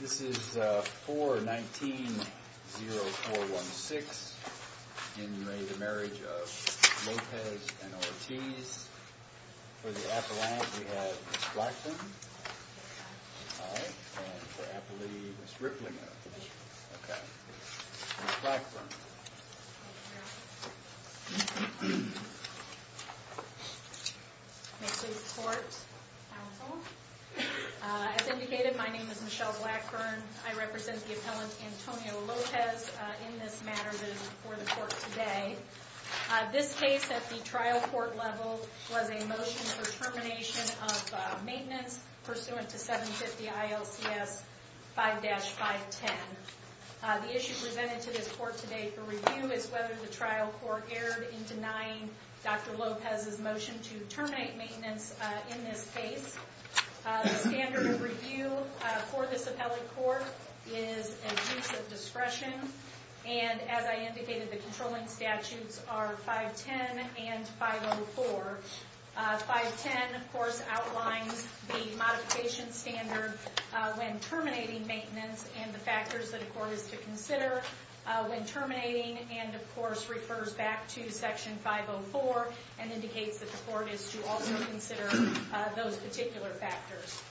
This is for 19-0-4-1-6 in May the marriage of Lopez and Ortiz for the Appalachians we have Ms. Blackburn and for Appalachians Ms. Ripley Ms. Blackburn Next we have the court counsel As indicated my names is Ms. Blackburn I represent the appellant Antonio Lopez in this for the court today This case at the trial court level was a motion for termination of maintenance pursuant to 750 ILCS 5-5-10 The issue presented to this court today for review is whether the trial court erred in denying Dr. Lopez's motion to terminate maintenance in this case The standard of review for this appellate court is an abuse of discretion and as I indicated the controlling statutes are 5-10 and 5-0-4 5-10 of course outlines the modification standard when terminating maintenance and the factors that a court is to consider when terminating And of course refers back to section 5-0-4 and indicates that the court is to also consider those particular factors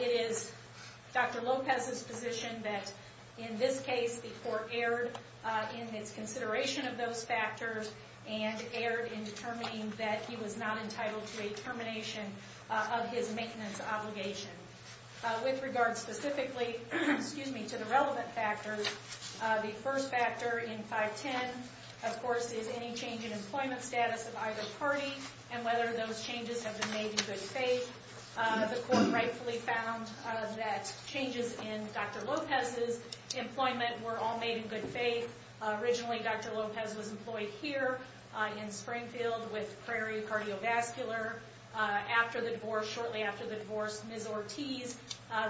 It is Dr. Lopez's position that in this case the court erred in its consideration of those factors and erred in determining that he was not entitled to a termination of his maintenance obligation With regards specifically to the relevant factors the first factor in 5-10 of course is any change in employment status of either party and whether those changes have been made in good faith The court rightfully found that changes in Dr. Lopez's employment were all made in good faith Originally Dr. Lopez was employed here in Springfield with Prairie Cardiovascular Shortly after the divorce Ms. Ortiz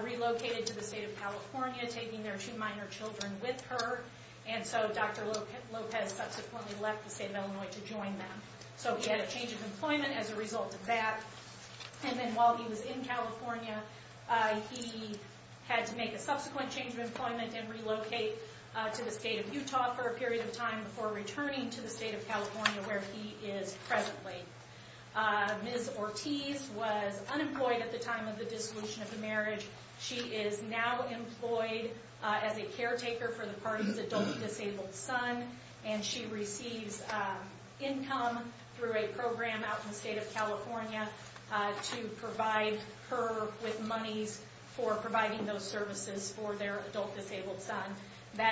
relocated to the state of California taking their two minor children with her And so Dr. Lopez subsequently left the state of Illinois to join them So he had a change of employment as a result of that And then while he was in California he had to make a subsequent change of employment and relocate to the state of Utah for a period of time before returning to the state of California where he is presently Ms. Ortiz was unemployed at the time of the dissolution of the marriage She is now employed as a caretaker for the party's adult disabled son and she receives income through a program out in the state of California to provide her with monies for providing those services for their adult disabled son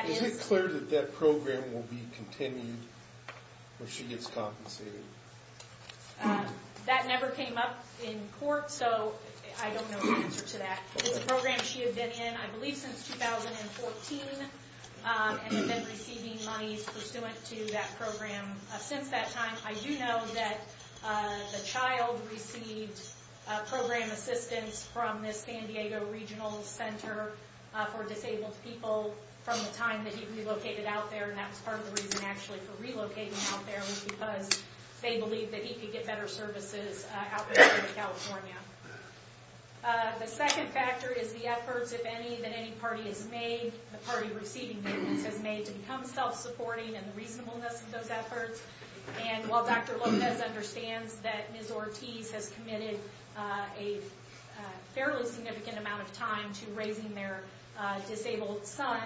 Is it clear that that program will be continued when she gets compensated? That never came up in court so I don't know the answer to that It's a program she had been in I believe since 2014 and had been receiving monies pursuant to that program since that time I do know that the child received program assistance from the San Diego Regional Center for Disabled People from the time that he relocated out there And that was part of the reason actually for relocating him out there was because they believed that he could get better services out there in the state of California The second factor is the efforts if any that any party has made, the party receiving payments has made to become self-supporting and the reasonableness of those efforts And while Dr. Lopez understands that Ms. Ortiz has committed a fairly significant amount of time to raising their disabled son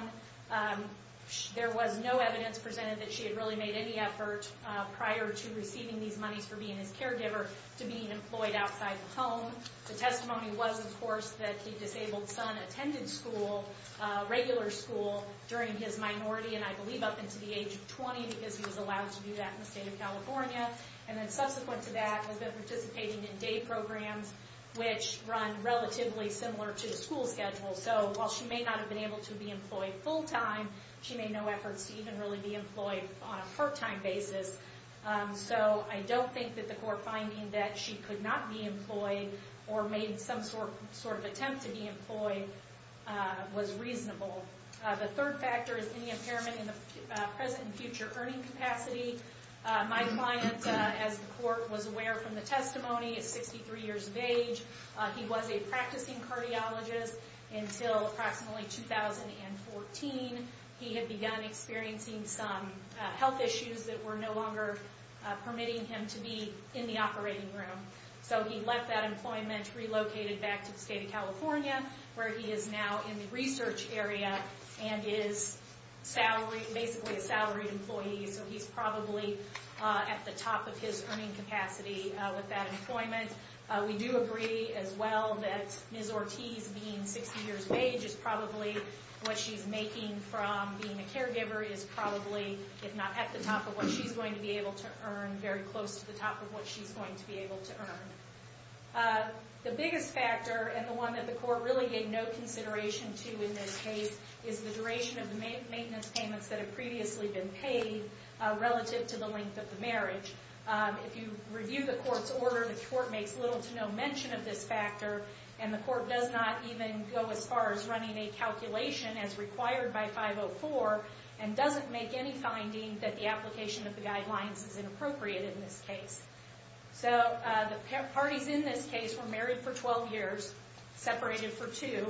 There was no evidence presented that she had really made any effort prior to receiving these monies for being his caregiver to being employed outside the home The testimony was of course that the disabled son attended school, regular school, during his minority and I believe up until the age of 20 because he was allowed to do that in the state of California And then subsequent to that has been participating in day programs which run relatively similar to the school schedule So while she may not have been able to be employed full-time, she made no efforts to even really be employed on a part-time basis So I don't think that the court finding that she could not be employed or made some sort of attempt to be employed was reasonable The third factor is any impairment in the present and future earning capacity My client as the court was aware from the testimony is 63 years of age He was a practicing cardiologist until approximately 2014 He had begun experiencing some health issues that were no longer permitting him to be in the operating room So he left that employment, relocated back to the state of California where he is now in the research area and is basically a salaried employee So he's probably at the top of his earning capacity with that employment We do agree as well that Ms. Ortiz being 60 years of age is probably what she's making from being a caregiver Is probably, if not at the top of what she's going to be able to earn, very close to the top of what she's going to be able to earn The biggest factor and the one that the court really gave no consideration to in this case Is the duration of the maintenance payments that have previously been paid relative to the length of the marriage If you review the court's order, the court makes little to no mention of this factor And the court does not even go as far as running a calculation as required by 504 And doesn't make any finding that the application of the guidelines is inappropriate in this case So the parties in this case were married for 12 years, separated for 2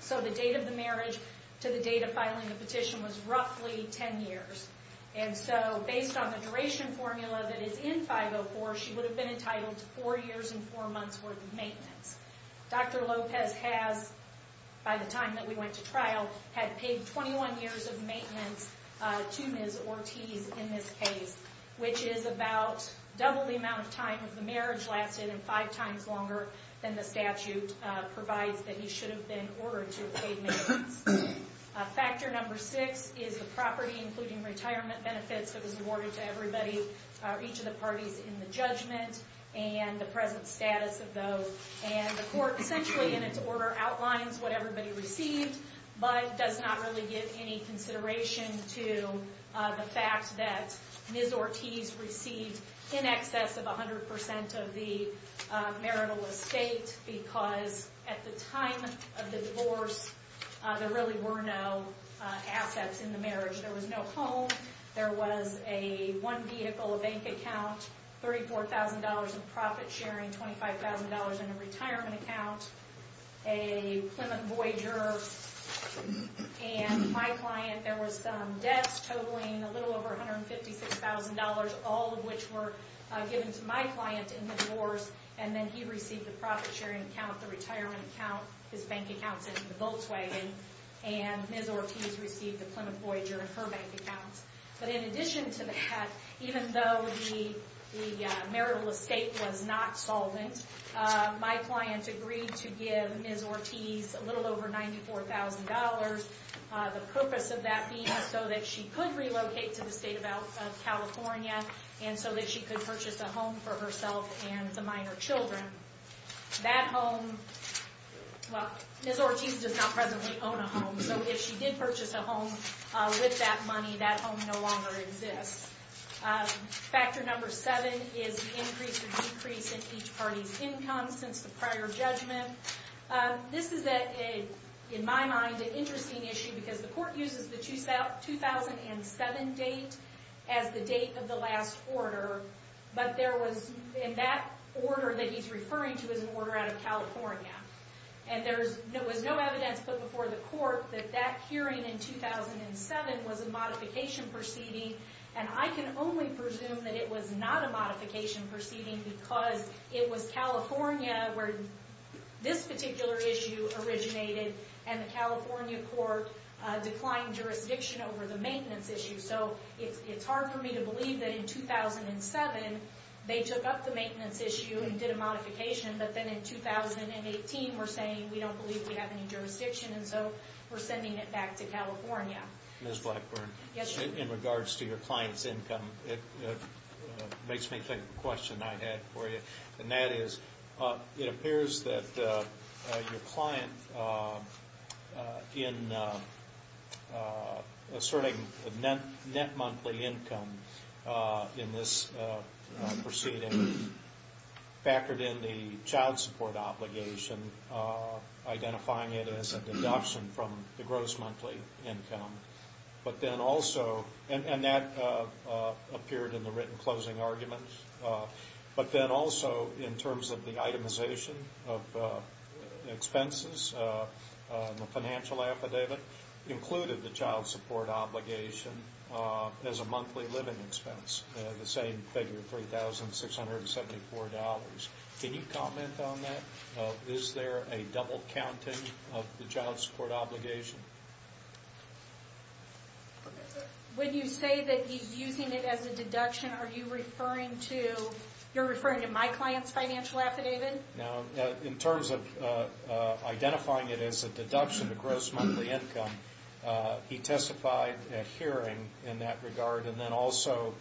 So the date of the marriage to the date of filing the petition was roughly 10 years And so based on the duration formula that is in 504 She would have been entitled to 4 years and 4 months worth of maintenance Dr. Lopez has, by the time that we went to trial, had paid 21 years of maintenance to Ms. Ortiz in this case Which is about double the amount of time the marriage lasted and 5 times longer than the statute Provides that he should have been ordered to have paid maintenance Factor number 6 is the property, including retirement benefits, that was awarded to everybody Each of the parties in the judgment and the present status of those And the court essentially, in its order, outlines what everybody received But does not really give any consideration to the fact that Ms. Ortiz received in excess of 100% of the marital estate Because at the time of the divorce, there really were no assets in the marriage There was no home, there was one vehicle, a bank account $34,000 in profit sharing, $25,000 in a retirement account A Plymouth Voyager And my client, there were some debts totaling a little over $156,000 All of which were given to my client in the divorce And then he received the profit sharing account, the retirement account, his bank account, and the Volkswagen And Ms. Ortiz received the Plymouth Voyager and her bank account But in addition to that, even though the marital estate was not solvent My client agreed to give Ms. Ortiz a little over $94,000 The purpose of that being so that she could relocate to the state of California And so that she could purchase a home for herself and the minor children Ms. Ortiz does not presently own a home So if she did purchase a home with that money, that home no longer exists Factor number seven is the increase or decrease in each party's income since the prior judgment This is, in my mind, an interesting issue Because the court uses the 2007 date as the date of the last order But there was, in that order that he's referring to, is an order out of California And there was no evidence put before the court that that hearing in 2007 was a modification proceeding And I can only presume that it was not a modification proceeding Because it was California where this particular issue originated And the California court declined jurisdiction over the maintenance issue So it's hard for me to believe that in 2007 they took up the maintenance issue and did a modification But then in 2018 we're saying we don't believe we have any jurisdiction Ms. Blackburn, in regards to your client's income It makes me think of a question I had for you And that is, it appears that your client, in asserting net monthly income in this proceeding Factored in the child support obligation, identifying it as a deduction from the gross monthly income But then also, and that appeared in the written closing argument But then also, in terms of the itemization of expenses, the financial affidavit Included the child support obligation as a monthly living expense The same figure, $3,674 Can you comment on that? Is there a double counting of the child support obligation? When you say that he's using it as a deduction, are you referring to You're referring to my client's financial affidavit? No, in terms of identifying it as a deduction to gross monthly income He testified at hearing in that regard And then also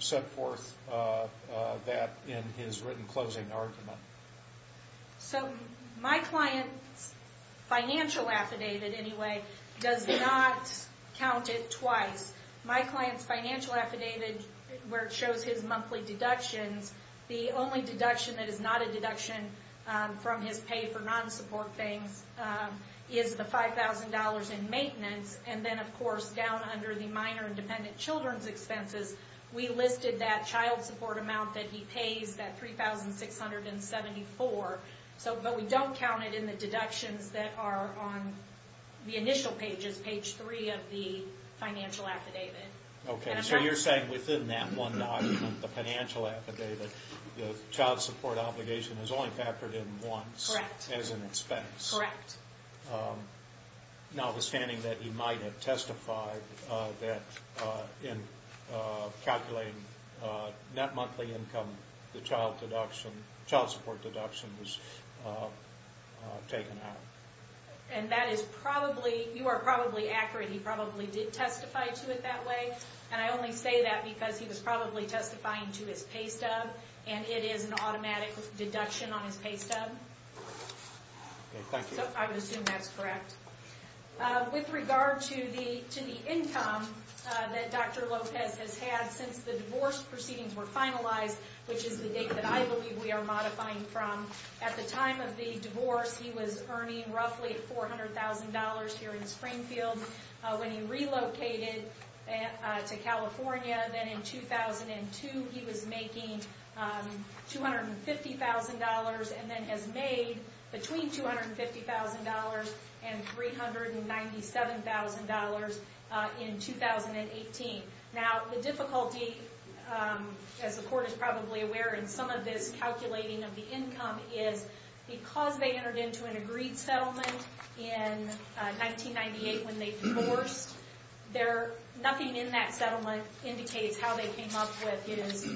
set forth that in his written closing argument So my client's financial affidavit, anyway, does not count it twice My client's financial affidavit, where it shows his monthly deductions The only deduction that is not a deduction from his pay for non-support things Is the $5,000 in maintenance And then of course, down under the minor and dependent children's expenses We listed that child support amount that he pays, that $3,674 But we don't count it in the deductions that are on the initial pages Page 3 of the financial affidavit So you're saying within that one document, the financial affidavit The child support obligation is only factored in once Correct As an expense Correct Notwithstanding that he might have testified that In calculating net monthly income, the child support deduction was taken out And that is probably, you are probably accurate He probably did testify to it that way And I only say that because he was probably testifying to his pay stub And it is an automatic deduction on his pay stub Okay, thank you So I would assume that's correct With regard to the income that Dr. Lopez has had Since the divorce proceedings were finalized Which is the date that I believe we are modifying from At the time of the divorce, he was earning roughly $400,000 here in Springfield When he relocated to California, then in 2002 He was making $250,000 And then has made between $250,000 and $397,000 in 2018 Now the difficulty, as the court is probably aware In some of this calculating of the income Is because they entered into an agreed settlement In 1998 when they divorced Nothing in that settlement indicates how they came up with his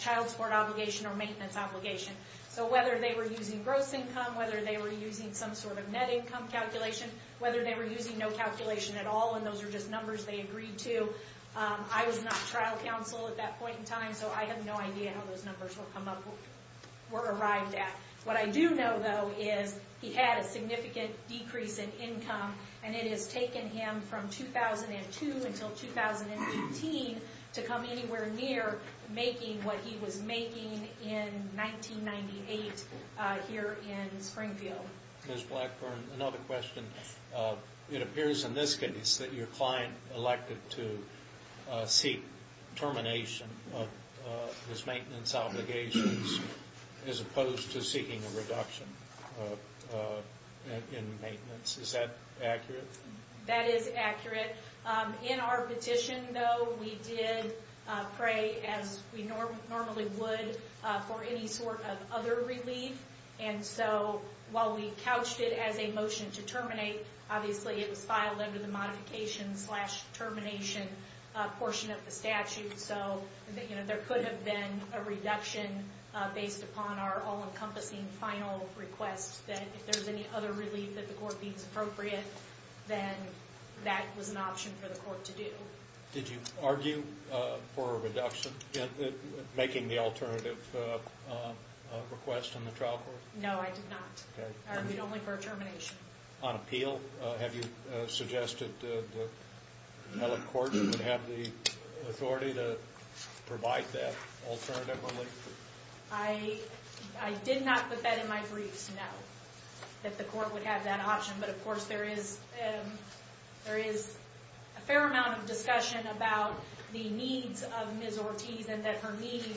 child support obligation Or maintenance obligation So whether they were using gross income Whether they were using some sort of net income calculation Whether they were using no calculation at all And those are just numbers they agreed to I was not trial counsel at that point in time So I have no idea how those numbers were arrived at What I do know, though, is he had a significant decrease in income And it has taken him from 2002 until 2018 To come anywhere near making what he was making in 1998 Here in Springfield Ms. Blackburn, another question It appears in this case that your client elected to seek termination Of his maintenance obligations As opposed to seeking a reduction in maintenance Is that accurate? That is accurate In our petition, though, we did pray as we normally would For any sort of other relief And so while we couched it as a motion to terminate Obviously it was filed under the modification slash termination portion of the statute So there could have been a reduction Based upon our all-encompassing final request That if there's any other relief that the court deems appropriate Then that was an option for the court to do Did you argue for a reduction In making the alternative request in the trial court? No, I did not I argued only for a termination On appeal, have you suggested That the court would have the authority to provide that alternative relief? I did not put that in my briefs, no That the court would have that option But of course there is a fair amount of discussion About the needs of Ms. Ortiz And that her needs,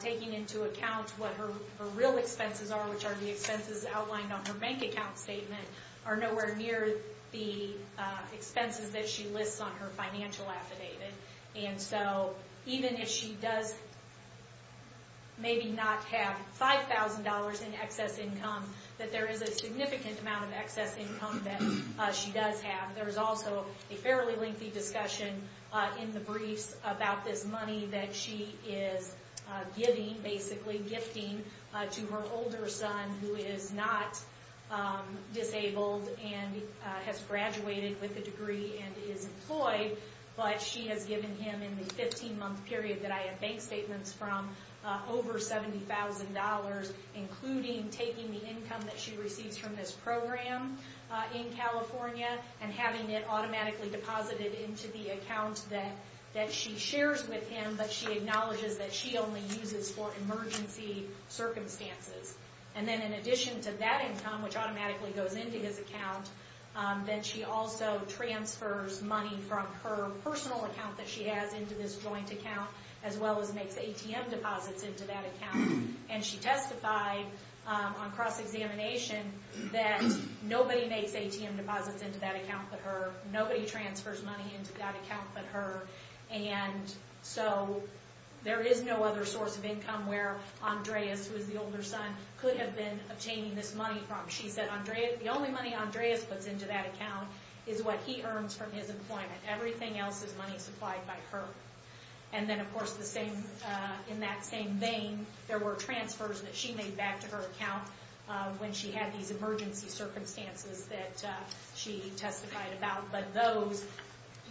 taking into account what her real expenses are Which are the expenses outlined on her bank account statement Are nowhere near the expenses that she lists on her financial affidavit And so even if she does Maybe not have $5,000 in excess income That there is a significant amount of excess income that she does have There is also a fairly lengthy discussion in the briefs About this money that she is giving, basically gifting To her older son, who is not disabled And has graduated with a degree and is employed But she has given him in the 15 month period That I have bank statements from Over $70,000 Including taking the income that she receives from this program In California And having it automatically deposited into the account That she shares with him But she acknowledges that she only uses for emergency circumstances And then in addition to that income Which automatically goes into his account Then she also transfers money from her personal account That she has into this joint account As well as makes ATM deposits into that account And she testified on cross-examination That nobody makes ATM deposits into that account but her Nobody transfers money into that account but her And so there is no other source of income Where Andreas, who is the older son Could have been obtaining this money from She said the only money Andreas puts into that account Is what he earns from his employment Everything else is money supplied by her And then of course in that same vein There were transfers that she made back to her account When she had these emergency circumstances That she testified about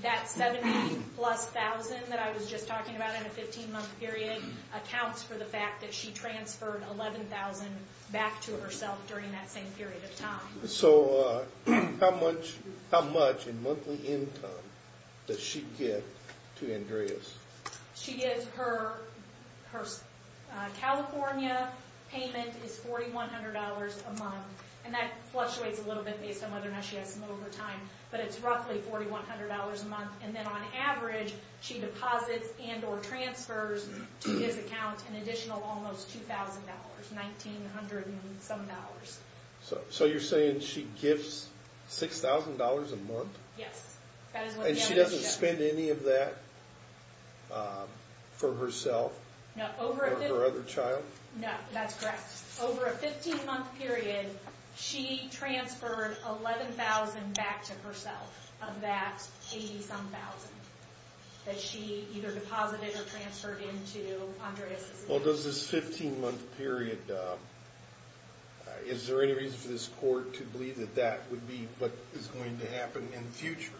That 70 plus thousand that I was just talking about In a 15 month period Accounts for the fact that she transferred 11,000 Back to herself during that same period of time So how much in monthly income does she get to Andreas? She gets her California payment is $4,100 a month And that fluctuates a little bit based on whether or not She has some overtime But it's roughly $4,100 a month And then on average she deposits and or transfers To his account an additional almost $2,000 $1,900 and some dollars So you're saying she gives $6,000 a month? Yes And she doesn't spend any of that for herself? No Or her other child? No, that's correct Over a 15 month period She transferred $11,000 back to herself Of that $80,000 That she either deposited or transferred into Andreas' account Well does this 15 month period Is there any reason for this court to believe that That would be what is going to happen in the future?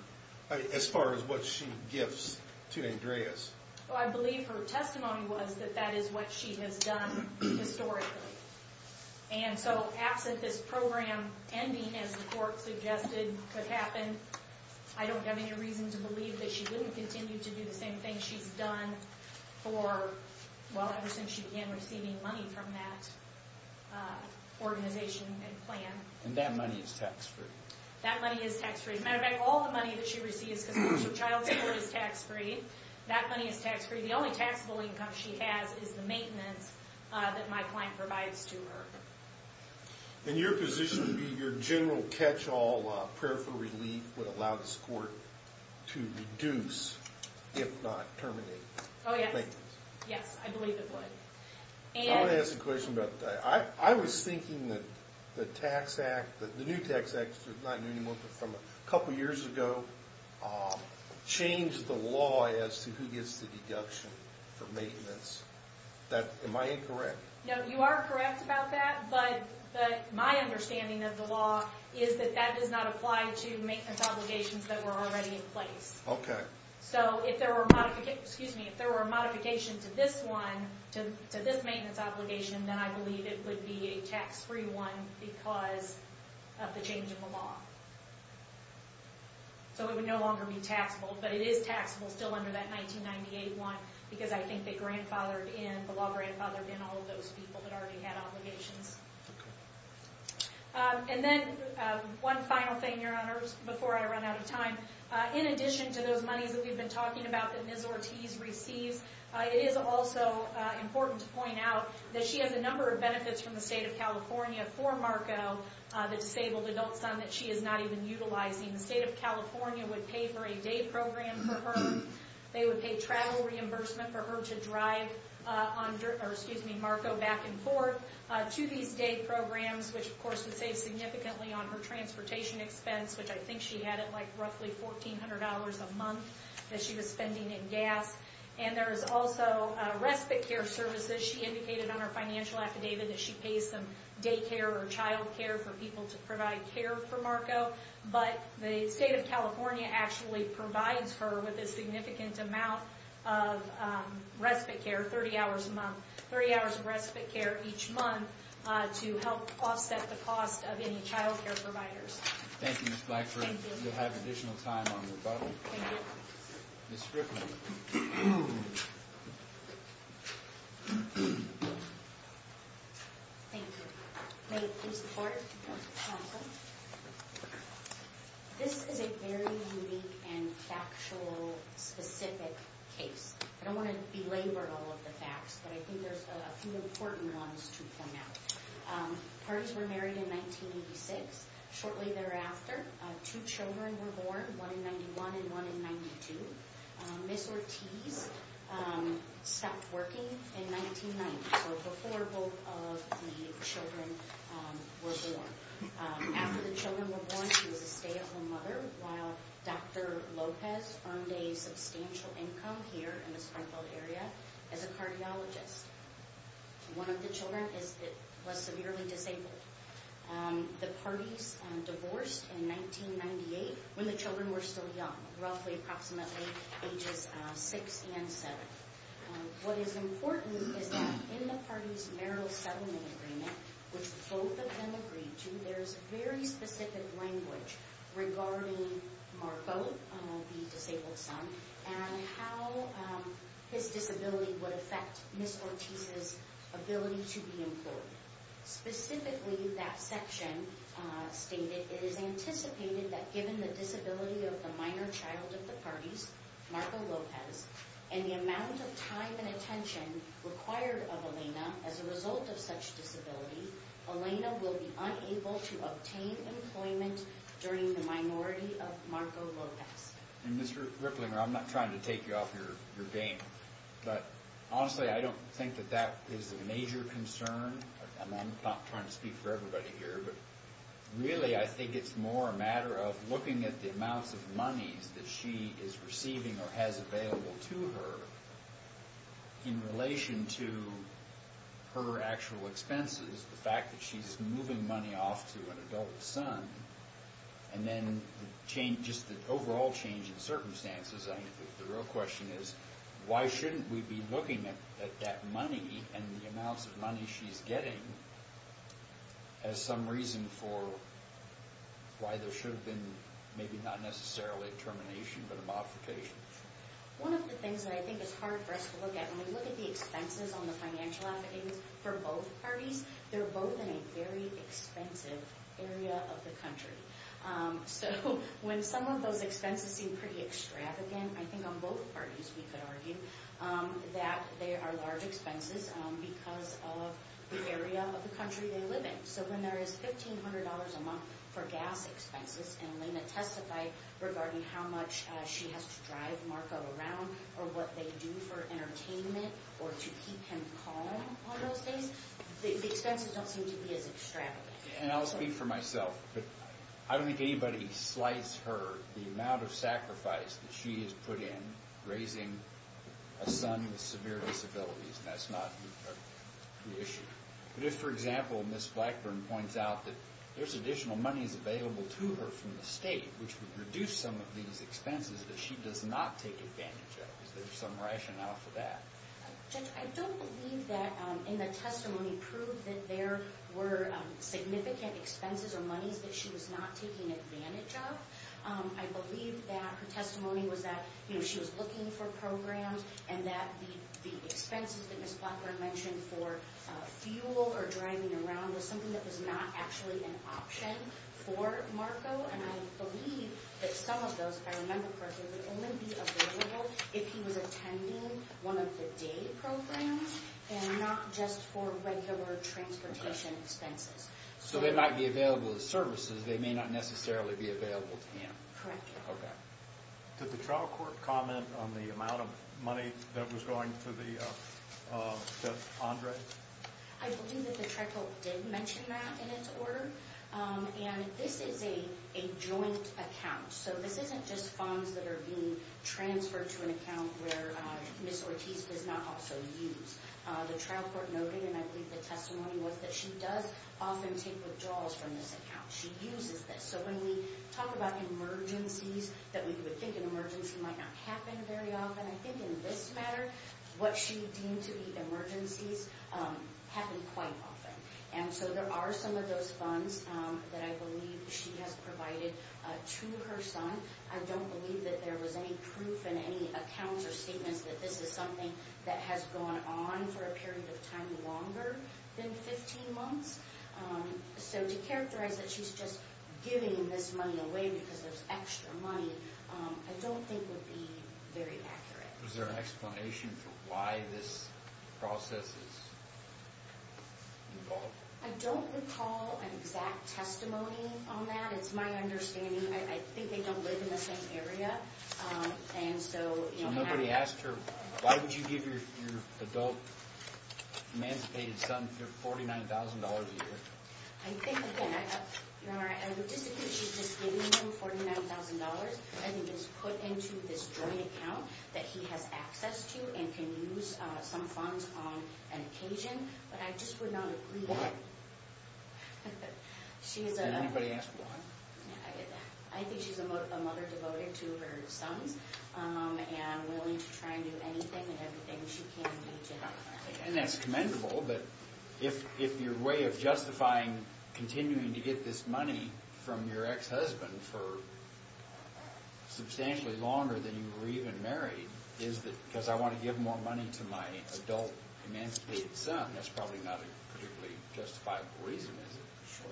As far as what she gives to Andreas? Well I believe her testimony was that That is what she has done historically And so absent this program ending As the court suggested could happen I don't have any reason to believe that She wouldn't continue to do the same thing she's done For well ever since she began receiving money From that organization and plan And that money is tax free? That money is tax free As a matter of fact all the money that she receives Because most of child support is tax free That money is tax free The only taxable income she has Is the maintenance that my client provides to her In your position your general catch all Prayer for relief would allow this court To reduce if not terminate Oh yes Yes I believe it would I want to ask a question about that I was thinking that the tax act The new tax act is not new anymore But from a couple years ago Changed the law as to who gets the deduction For maintenance Am I incorrect? No you are correct about that But my understanding of the law Is that that does not apply to maintenance obligations That were already in place Okay So if there were a modification to this one To this maintenance obligation Then I believe it would be a tax free one Because of the change in the law So it would no longer be taxable But it is taxable still under that 1998 one Because I think the law grandfathered in All of those people that already had obligations And then one final thing your honors Before I run out of time In addition to those monies that we've been talking about That Ms. Ortiz receives It is also important to point out That she has a number of benefits From the state of California for Marco The disabled adult son That she is not even utilizing The state of California Would pay for a day program for her They would pay travel reimbursement For her to drive Marco back and forth To these day programs Which of course would save significantly On her transportation expense Which I think she had at roughly $1400 a month That she was spending in gas And there is also respite care services She indicated on her financial affidavit That she pays some day care or child care For people to provide care for Marco But the state of California actually provides her With a significant amount of respite care 30 hours a month 30 hours of respite care each month To help offset the cost of any child care providers Thank you Ms. Blackford Thank you You'll have additional time on your button Thank you Ms. Strickland Thank you May it please the court Counsel This is a very unique and factual specific case I don't want to belabor all of the facts But I think there's a few important ones to point out Parties were married in 1986 Shortly thereafter Two children were born One in 91 and one in 92 Ms. Ortiz stopped working in 1990 So before both of the children were born After the children were born She was a stay-at-home mother While Dr. Lopez earned a substantial income Here in the Springfield area As a cardiologist One of the children was severely disabled The parties divorced in 1998 When the children were still young Roughly approximately ages 6 and 7 What is important is that In the parties marital settlement agreement Which both of them agreed to There's very specific language Regarding Marco, the disabled son And how his disability would affect Ms. Ortiz's ability to be employed Specifically that section stated It is anticipated that given the disability Of the minor child of the parties Marco Lopez And the amount of time and attention Required of Elena As a result of such disability Elena will be unable to obtain employment During the minority of Marco Lopez And Mr. Ripplinger I'm not trying to take you off your game But honestly I don't think that That is a major concern I'm not trying to speak for everybody here But really I think it's more a matter of Looking at the amounts of monies That she is receiving or has available to her In relation to her actual expenses The fact that she's moving money off To an adult son And then just the overall change in circumstances The real question is Why shouldn't we be looking at that money And the amounts of money she's getting As some reason for Why there should have been Maybe not necessarily a termination But a modification One of the things that I think is hard for us to look at When we look at the expenses on the financial affidavits For both parties They're both in a very expensive area of the country So when some of those expenses seem pretty extravagant I think on both parties we could argue That they are large expenses Because of the area of the country they live in So when there is $1,500 a month for gas expenses And Elena testified regarding how much She has to drive Marco around Or what they do for entertainment Or to keep him calm on those things The expenses don't seem to be as extravagant And I'll speak for myself I don't think anybody slights her The amount of sacrifice that she has put in Raising a son with severe disabilities And that's not the issue But if, for example, Ms. Blackburn points out that There's additional monies available to her from the state Which would reduce some of these expenses That she does not take advantage of Is there some rationale for that? Judge, I don't believe that in the testimony Proved that there were significant expenses or monies That she was not taking advantage of I believe that her testimony was that She was looking for programs And that the expenses that Ms. Blackburn mentioned For fuel or driving around Was something that was not actually an option for Marco And I believe that some of those, if I remember correctly Would only be available if he was attending One of the day programs And not just for regular transportation expenses So they might be available as services They may not necessarily be available to him Correct Okay Did the trial court comment on the amount of money That was going to Judge Andre? I believe that the trial court did mention that in its order And this is a joint account So this isn't just funds that are being transferred to an account Where Ms. Ortiz does not also use The trial court noted, and I believe the testimony was That she does often take withdrawals from this account She uses this So when we talk about emergencies That we would think an emergency might not happen very often I think in this matter What she deemed to be emergencies Happen quite often And so there are some of those funds That I believe she has provided to her son I don't believe that there was any proof In any accounts or statements That this is something that has gone on For a period of time longer than 15 months So to characterize that she's just giving this money away Because there's extra money I don't think would be very accurate Was there an explanation for why this process is involved? I don't recall an exact testimony on that It's my understanding I think they don't live in the same area So nobody asked her Why would you give your adult emancipated son $49,000 a year? I think again I would disagree that she's just giving him $49,000 I think it's put into this joint account That he has access to And can use some funds on an occasion But I just would not agree Why? Can anybody ask why? I think she's a mother devoted to her sons And willing to try and do anything And everything she can to help her son And that's commendable But if your way of justifying Continuing to get this money From your ex-husband For substantially longer Than you were even married Because I want to give more money To my adult emancipated son That's probably not a particularly justifiable reason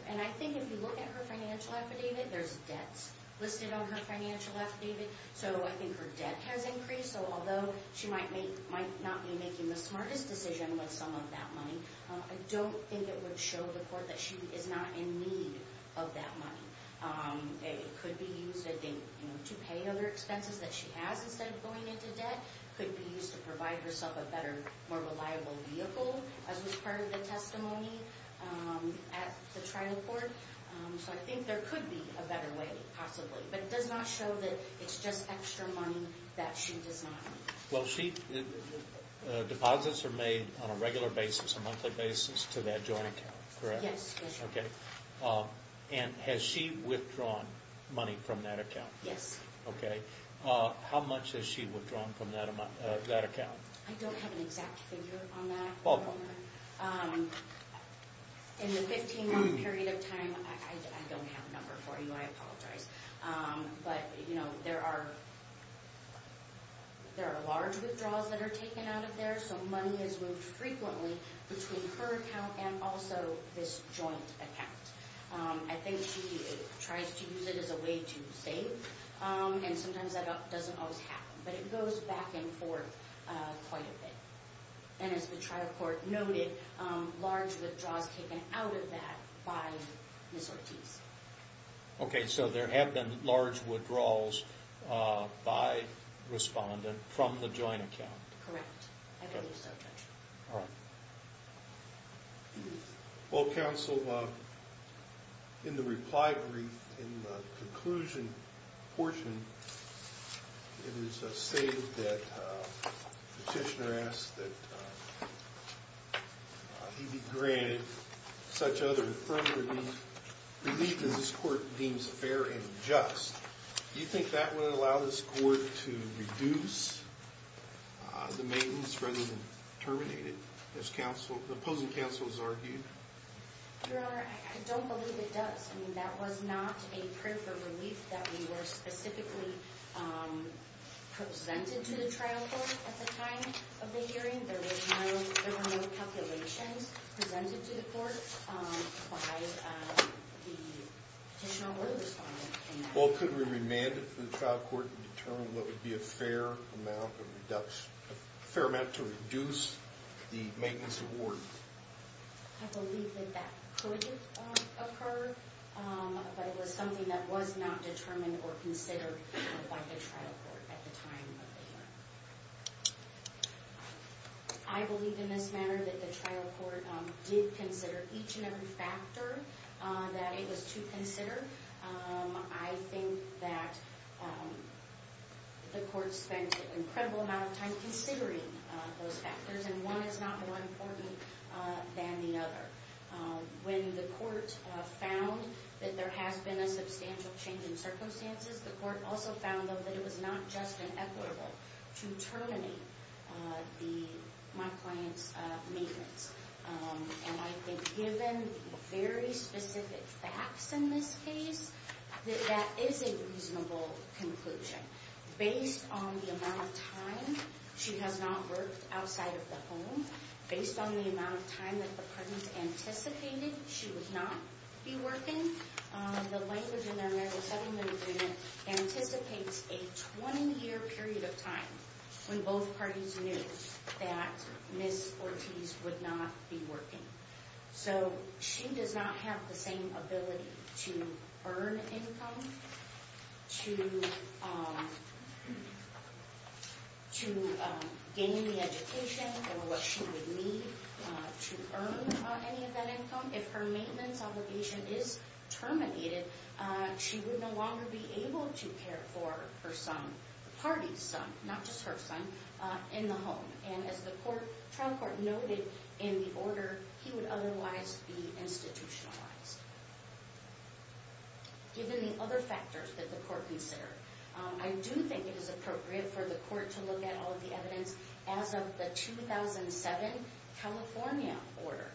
And I think if you look at her financial affidavit There's debts listed on her financial affidavit So I think her debt has increased Although she might not be making the smartest decision With some of that money I don't think it would show the court That she is not in need of that money It could be used to pay other expenses That she has instead of going into debt It could be used to provide herself A better, more reliable vehicle As was part of the testimony At the trial court So I think there could be a better way, possibly But it does not show that it's just extra money That she does not need Deposits are made on a regular basis A monthly basis to that joint account, correct? Yes And has she withdrawn money from that account? Yes How much has she withdrawn from that account? I don't have an exact figure on that In the 15 month period of time I don't have a number for you, I apologize But there are large withdrawals that are taken out of there So money is moved frequently Between her account And also this joint account I think she tries to use it as a way to save And sometimes that doesn't always happen But it goes back and forth quite a bit And as the trial court noted Large withdrawals taken out of that by Ms. Ortiz Okay, so there have been large withdrawals By respondent from the joint account Correct, I believe so, Judge Well, counsel In the reply brief In the conclusion portion It is stated that Petitioner asks that He be granted Such other affirmative relief Relief that this court deems fair and just Do you think that would allow this court to reduce The maintenance rather than terminate it? As the opposing counsel has argued Your Honor, I don't believe it does I mean, that was not a prayer for relief That we were specifically Presented to the trial court at the time of the hearing There were no calculations presented to the court By the petitioner or the respondent Well, could we remand it to the trial court And determine what would be a fair amount A fair amount to reduce the maintenance award? I believe that that could occur But it was something that was not determined or considered By the trial court at the time of the hearing I believe in this matter that the trial court Did consider each and every factor That it was to consider I think that The court spent an incredible amount of time Considering those factors And one is not more important than the other When the court found that there has been A substantial change in circumstances The court also found, though, that it was not just Inequitable to terminate My client's maintenance And I think given very specific facts in this case That that is a reasonable conclusion Based on the amount of time She has not worked outside of the home Based on the amount of time that the parties anticipated She would not be working The language in the American Settlement Agreement Anticipates a 20-year period of time When both parties knew That Ms. Ortiz would not be working So she does not have the same ability To earn income To gain the education Or what she would need to earn any of that income If her maintenance obligation is terminated She would no longer be able to care for her son The party's son, not just her son In the home And as the trial court noted in the order He would otherwise be institutionalized Given the other factors that the court considered I do think it is appropriate for the court To look at all of the evidence As of the 2007 California order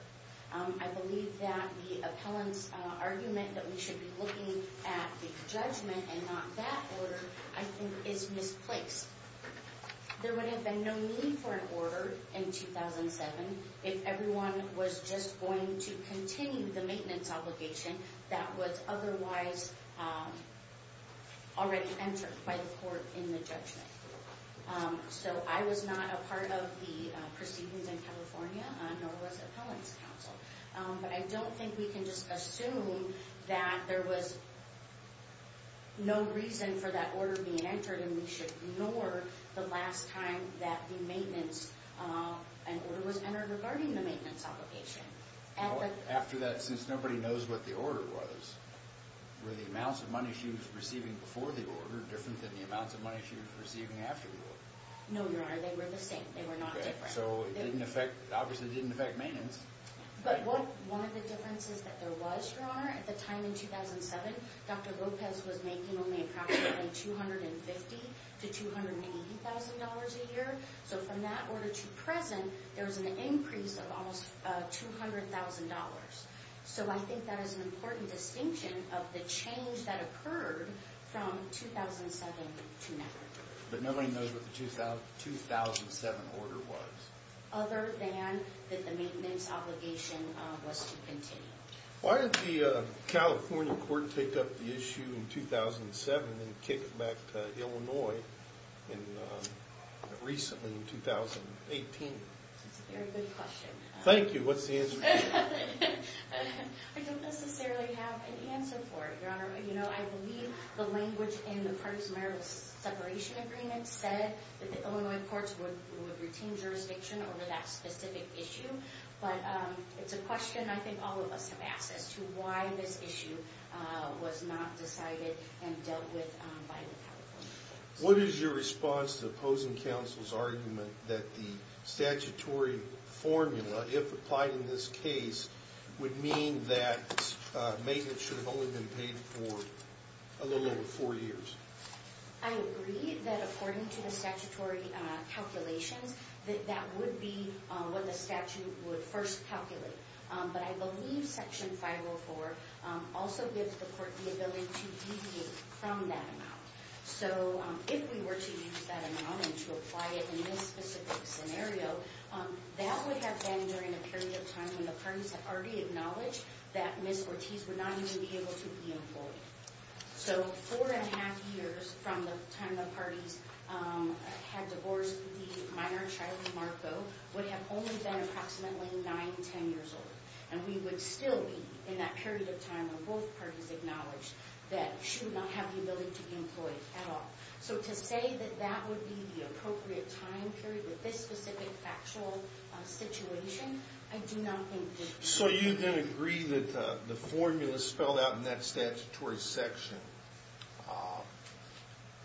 I believe that the appellant's argument That we should be looking at the judgment And not that order I think is misplaced There would have been no need for an order in 2007 If everyone was just going to continue The maintenance obligation That was otherwise already entered By the court in the judgment So I was not a part of the proceedings in California Nor was the appellant's counsel But I don't think we can just assume That there was no reason for that order being entered And we should ignore the last time An order was entered regarding the maintenance obligation After that, since nobody knows what the order was Were the amounts of money she was receiving before the order Different than the amounts of money she was receiving after the order? No, Your Honor, they were the same They were not different So it obviously didn't affect maintenance But one of the differences that there was, Your Honor At the time in 2007 Dr. Lopez was making only approximately $250,000 to $280,000 a year So from that order to present There was an increase of almost $200,000 So I think that is an important distinction Of the change that occurred from 2007 to now But nobody knows what the 2007 order was? Other than that the maintenance obligation was to continue Why did the California court pick up the issue in 2007 And then kick it back to Illinois recently in 2018? That's a very good question Thank you, what's the answer to that? I don't necessarily have an answer for it, Your Honor You know, I believe the language In the partisan marital separation agreement said That the Illinois courts would retain jurisdiction Over that specific issue But it's a question I think all of us have asked As to why this issue was not decided And dealt with by the California courts What is your response to the opposing counsel's argument That the statutory formula, if applied in this case Would mean that maintenance should have only been paid For a little over four years? I agree that according to the statutory calculations That that would be what the statute would first calculate But I believe section 504 also gives the court The ability to deviate from that amount So if we were to use that amount And to apply it in this specific scenario That would have been during a period of time When the parties had already acknowledged That Ms. Ortiz would not even be able to be employed So four and a half years from the time the parties Had divorced the minor, Shiley Marco Would have only been approximately nine, ten years old And we would still be in that period of time When both parties acknowledged That she would not have the ability to be employed at all So to say that that would be the appropriate time period With this specific factual situation I do not think that... So you then agree that the formula spelled out In that statutory section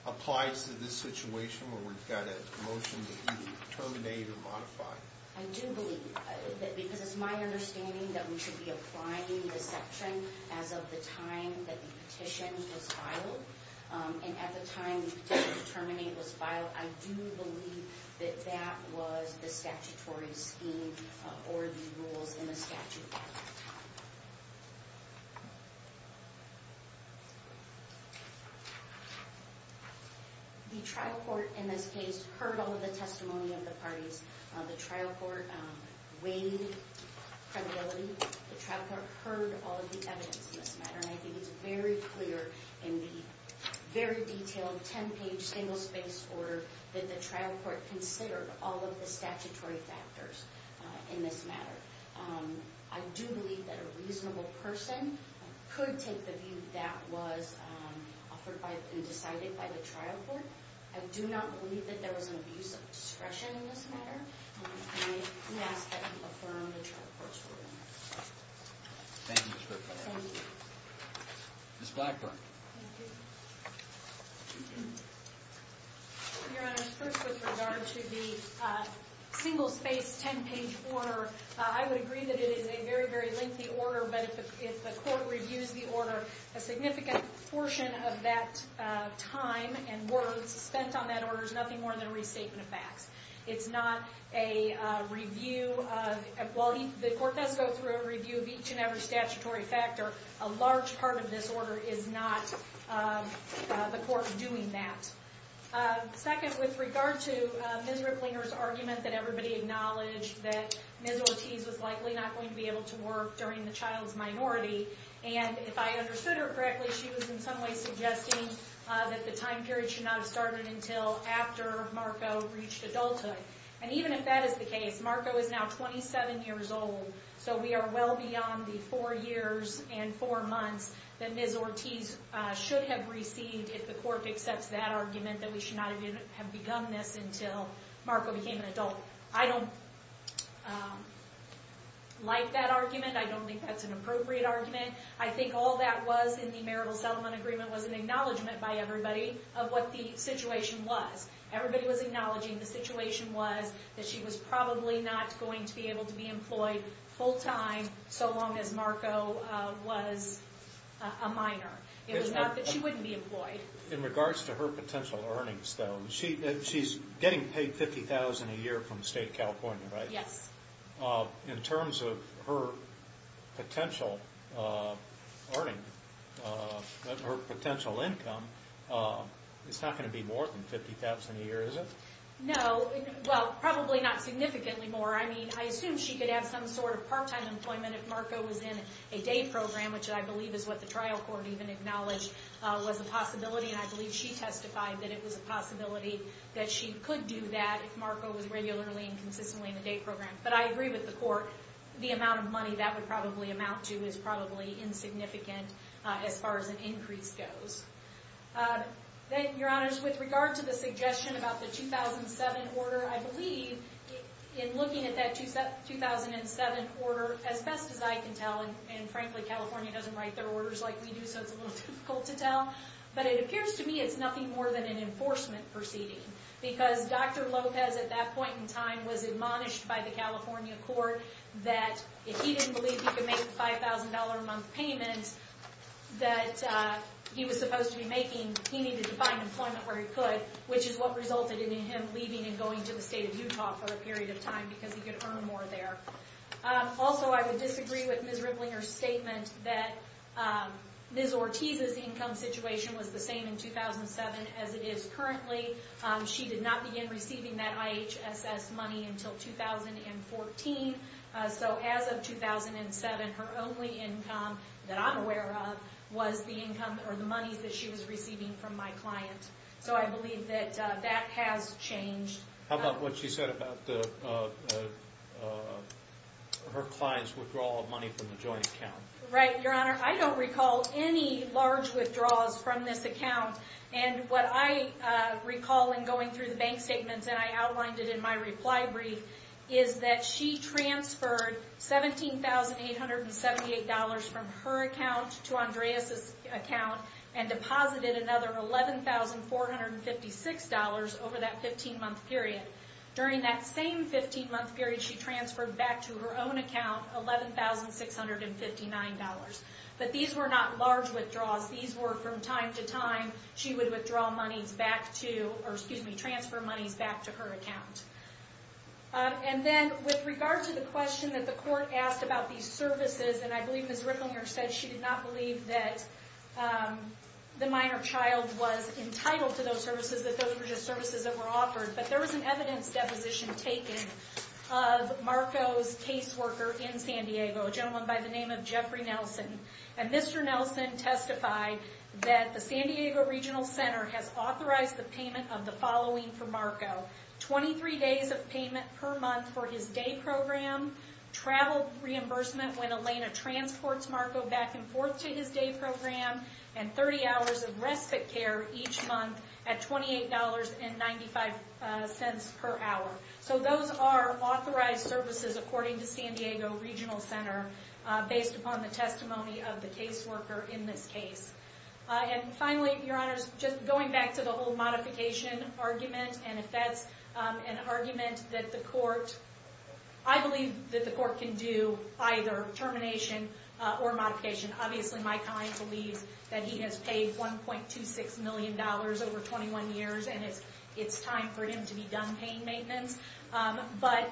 Applies to this situation Where we've got a motion to either terminate or modify? I do believe, because it's my understanding That we should be applying this section As of the time that the petition was filed And at the time the petition to terminate was filed I do believe that that was the statutory scheme Or the rules in the statute The trial court in this case Heard all of the testimony of the parties The trial court weighed credibility The trial court heard all of the evidence in this matter And I think it's very clear In the very detailed ten-page single-space order That the trial court considered All of the statutory factors in this matter I do believe that a reasonable person Could take the view that was Offered and decided by the trial court I do not believe that there was an abuse of discretion In this matter And I ask that you affirm the trial court's ruling Thank you, Ms. Whitburn Ms. Blackburn Your Honor, first with regard to the Single-space ten-page order I would agree that it is a very, very lengthy order But if the court reviews the order A significant portion of that time And words spent on that order There's nothing more than a restatement of facts It's not a review of While the court does go through a review Of each and every statutory factor A large part of this order is not The court doing that Second, with regard to Ms. Riplinger's argument that everybody acknowledged That Ms. Ortiz was likely not going to be able to work During the child's minority And if I understood her correctly She was in some way suggesting That the time period should not have started Until after Marco reached adulthood And even if that is the case Marco is now 27 years old So we are well beyond the four years and four months That Ms. Ortiz should have received If the court accepts that argument That we should not have begun this Until Marco became an adult I don't like that argument I don't think that's an appropriate argument I think all that was in the marital settlement agreement Was an acknowledgment by everybody Of what the situation was Everybody was acknowledging the situation was That she was probably not going to be able to be employed Full time so long as Marco was a minor It was not that she wouldn't be employed In regards to her potential earnings though She's getting paid $50,000 a year from State California, right? Yes In terms of her potential earnings Her potential income It's not going to be more than $50,000 a year, is it? No, well probably not significantly more I mean I assume she could have some sort of part time employment If Marco was in a day program Which I believe is what the trial court even acknowledged Was a possibility And I believe she testified that it was a possibility That she could do that If Marco was regularly and consistently in a day program But I agree with the court The amount of money that would probably amount to Is probably insignificant As far as an increase goes Your honors With regard to the suggestion about the 2007 order I believe in looking at that 2007 order As best as I can tell And frankly California doesn't write their orders like we do So it's a little difficult to tell But it appears to me it's nothing more than an enforcement proceeding Because Dr. Lopez at that point in time Was admonished by the California court That if he didn't believe he could make the $5,000 a month payment That he was supposed to be making He needed to find employment where he could Which is what resulted in him leaving And going to the state of Utah for a period of time Because he could earn more there Also I would disagree with Ms. Riplinger's statement That Ms. Ortiz's income situation was the same in 2007 As it is currently She did not begin receiving that IHSS money until 2014 So as of 2007 Her only income that I'm aware of Was the income or the money that she was receiving from my client So I believe that that has changed How about what she said about Her client's withdrawal of money from the joint account Right, your honor I don't recall any large withdrawals from this account And what I recall in going through the bank statements And I outlined it in my reply brief Is that she transferred $17,878 from her account To Andreas' account And deposited another $11,456 over that 15 month period During that same 15 month period She transferred back to her own account $11,659 But these were not large withdrawals These were from time to time She would withdraw monies back to Or excuse me, transfer monies back to her account And then with regard to the question That the court asked about these services And I believe Ms. Ricklinger said she did not believe that The minor child was entitled to those services That those were just services that were offered But there was an evidence deposition taken Of Marco's case worker in San Diego A gentleman by the name of Jeffrey Nelson And Mr. Nelson testified That the San Diego Regional Center Has authorized the payment of the following for Marco 23 days of payment per month for his day program Travel reimbursement when Elena transports Marco Back and forth to his day program And 30 hours of respite care each month At $28.95 per hour So those are authorized services According to San Diego Regional Center Based upon the testimony of the case worker in this case And finally, your honors Just going back to the whole modification argument And if that's an argument that the court I believe that the court can do Either termination or modification Obviously my client believes That he has paid $1.26 million over 21 years And it's time for him to be done paying maintenance But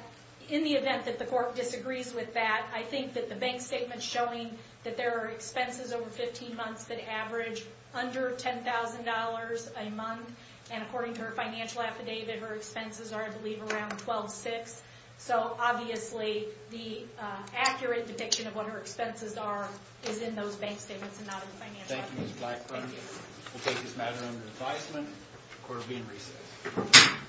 in the event that the court disagrees with that I think that the bank statement showing That there are expenses over 15 months That average under $10,000 a month And according to her financial affidavit Her expenses are I believe around $12,600 So obviously the accurate depiction of what her expenses are Is in those bank statements and not in the financial affidavit Thank you Ms. Blackburn We'll take this matter under advisement Court will be in recess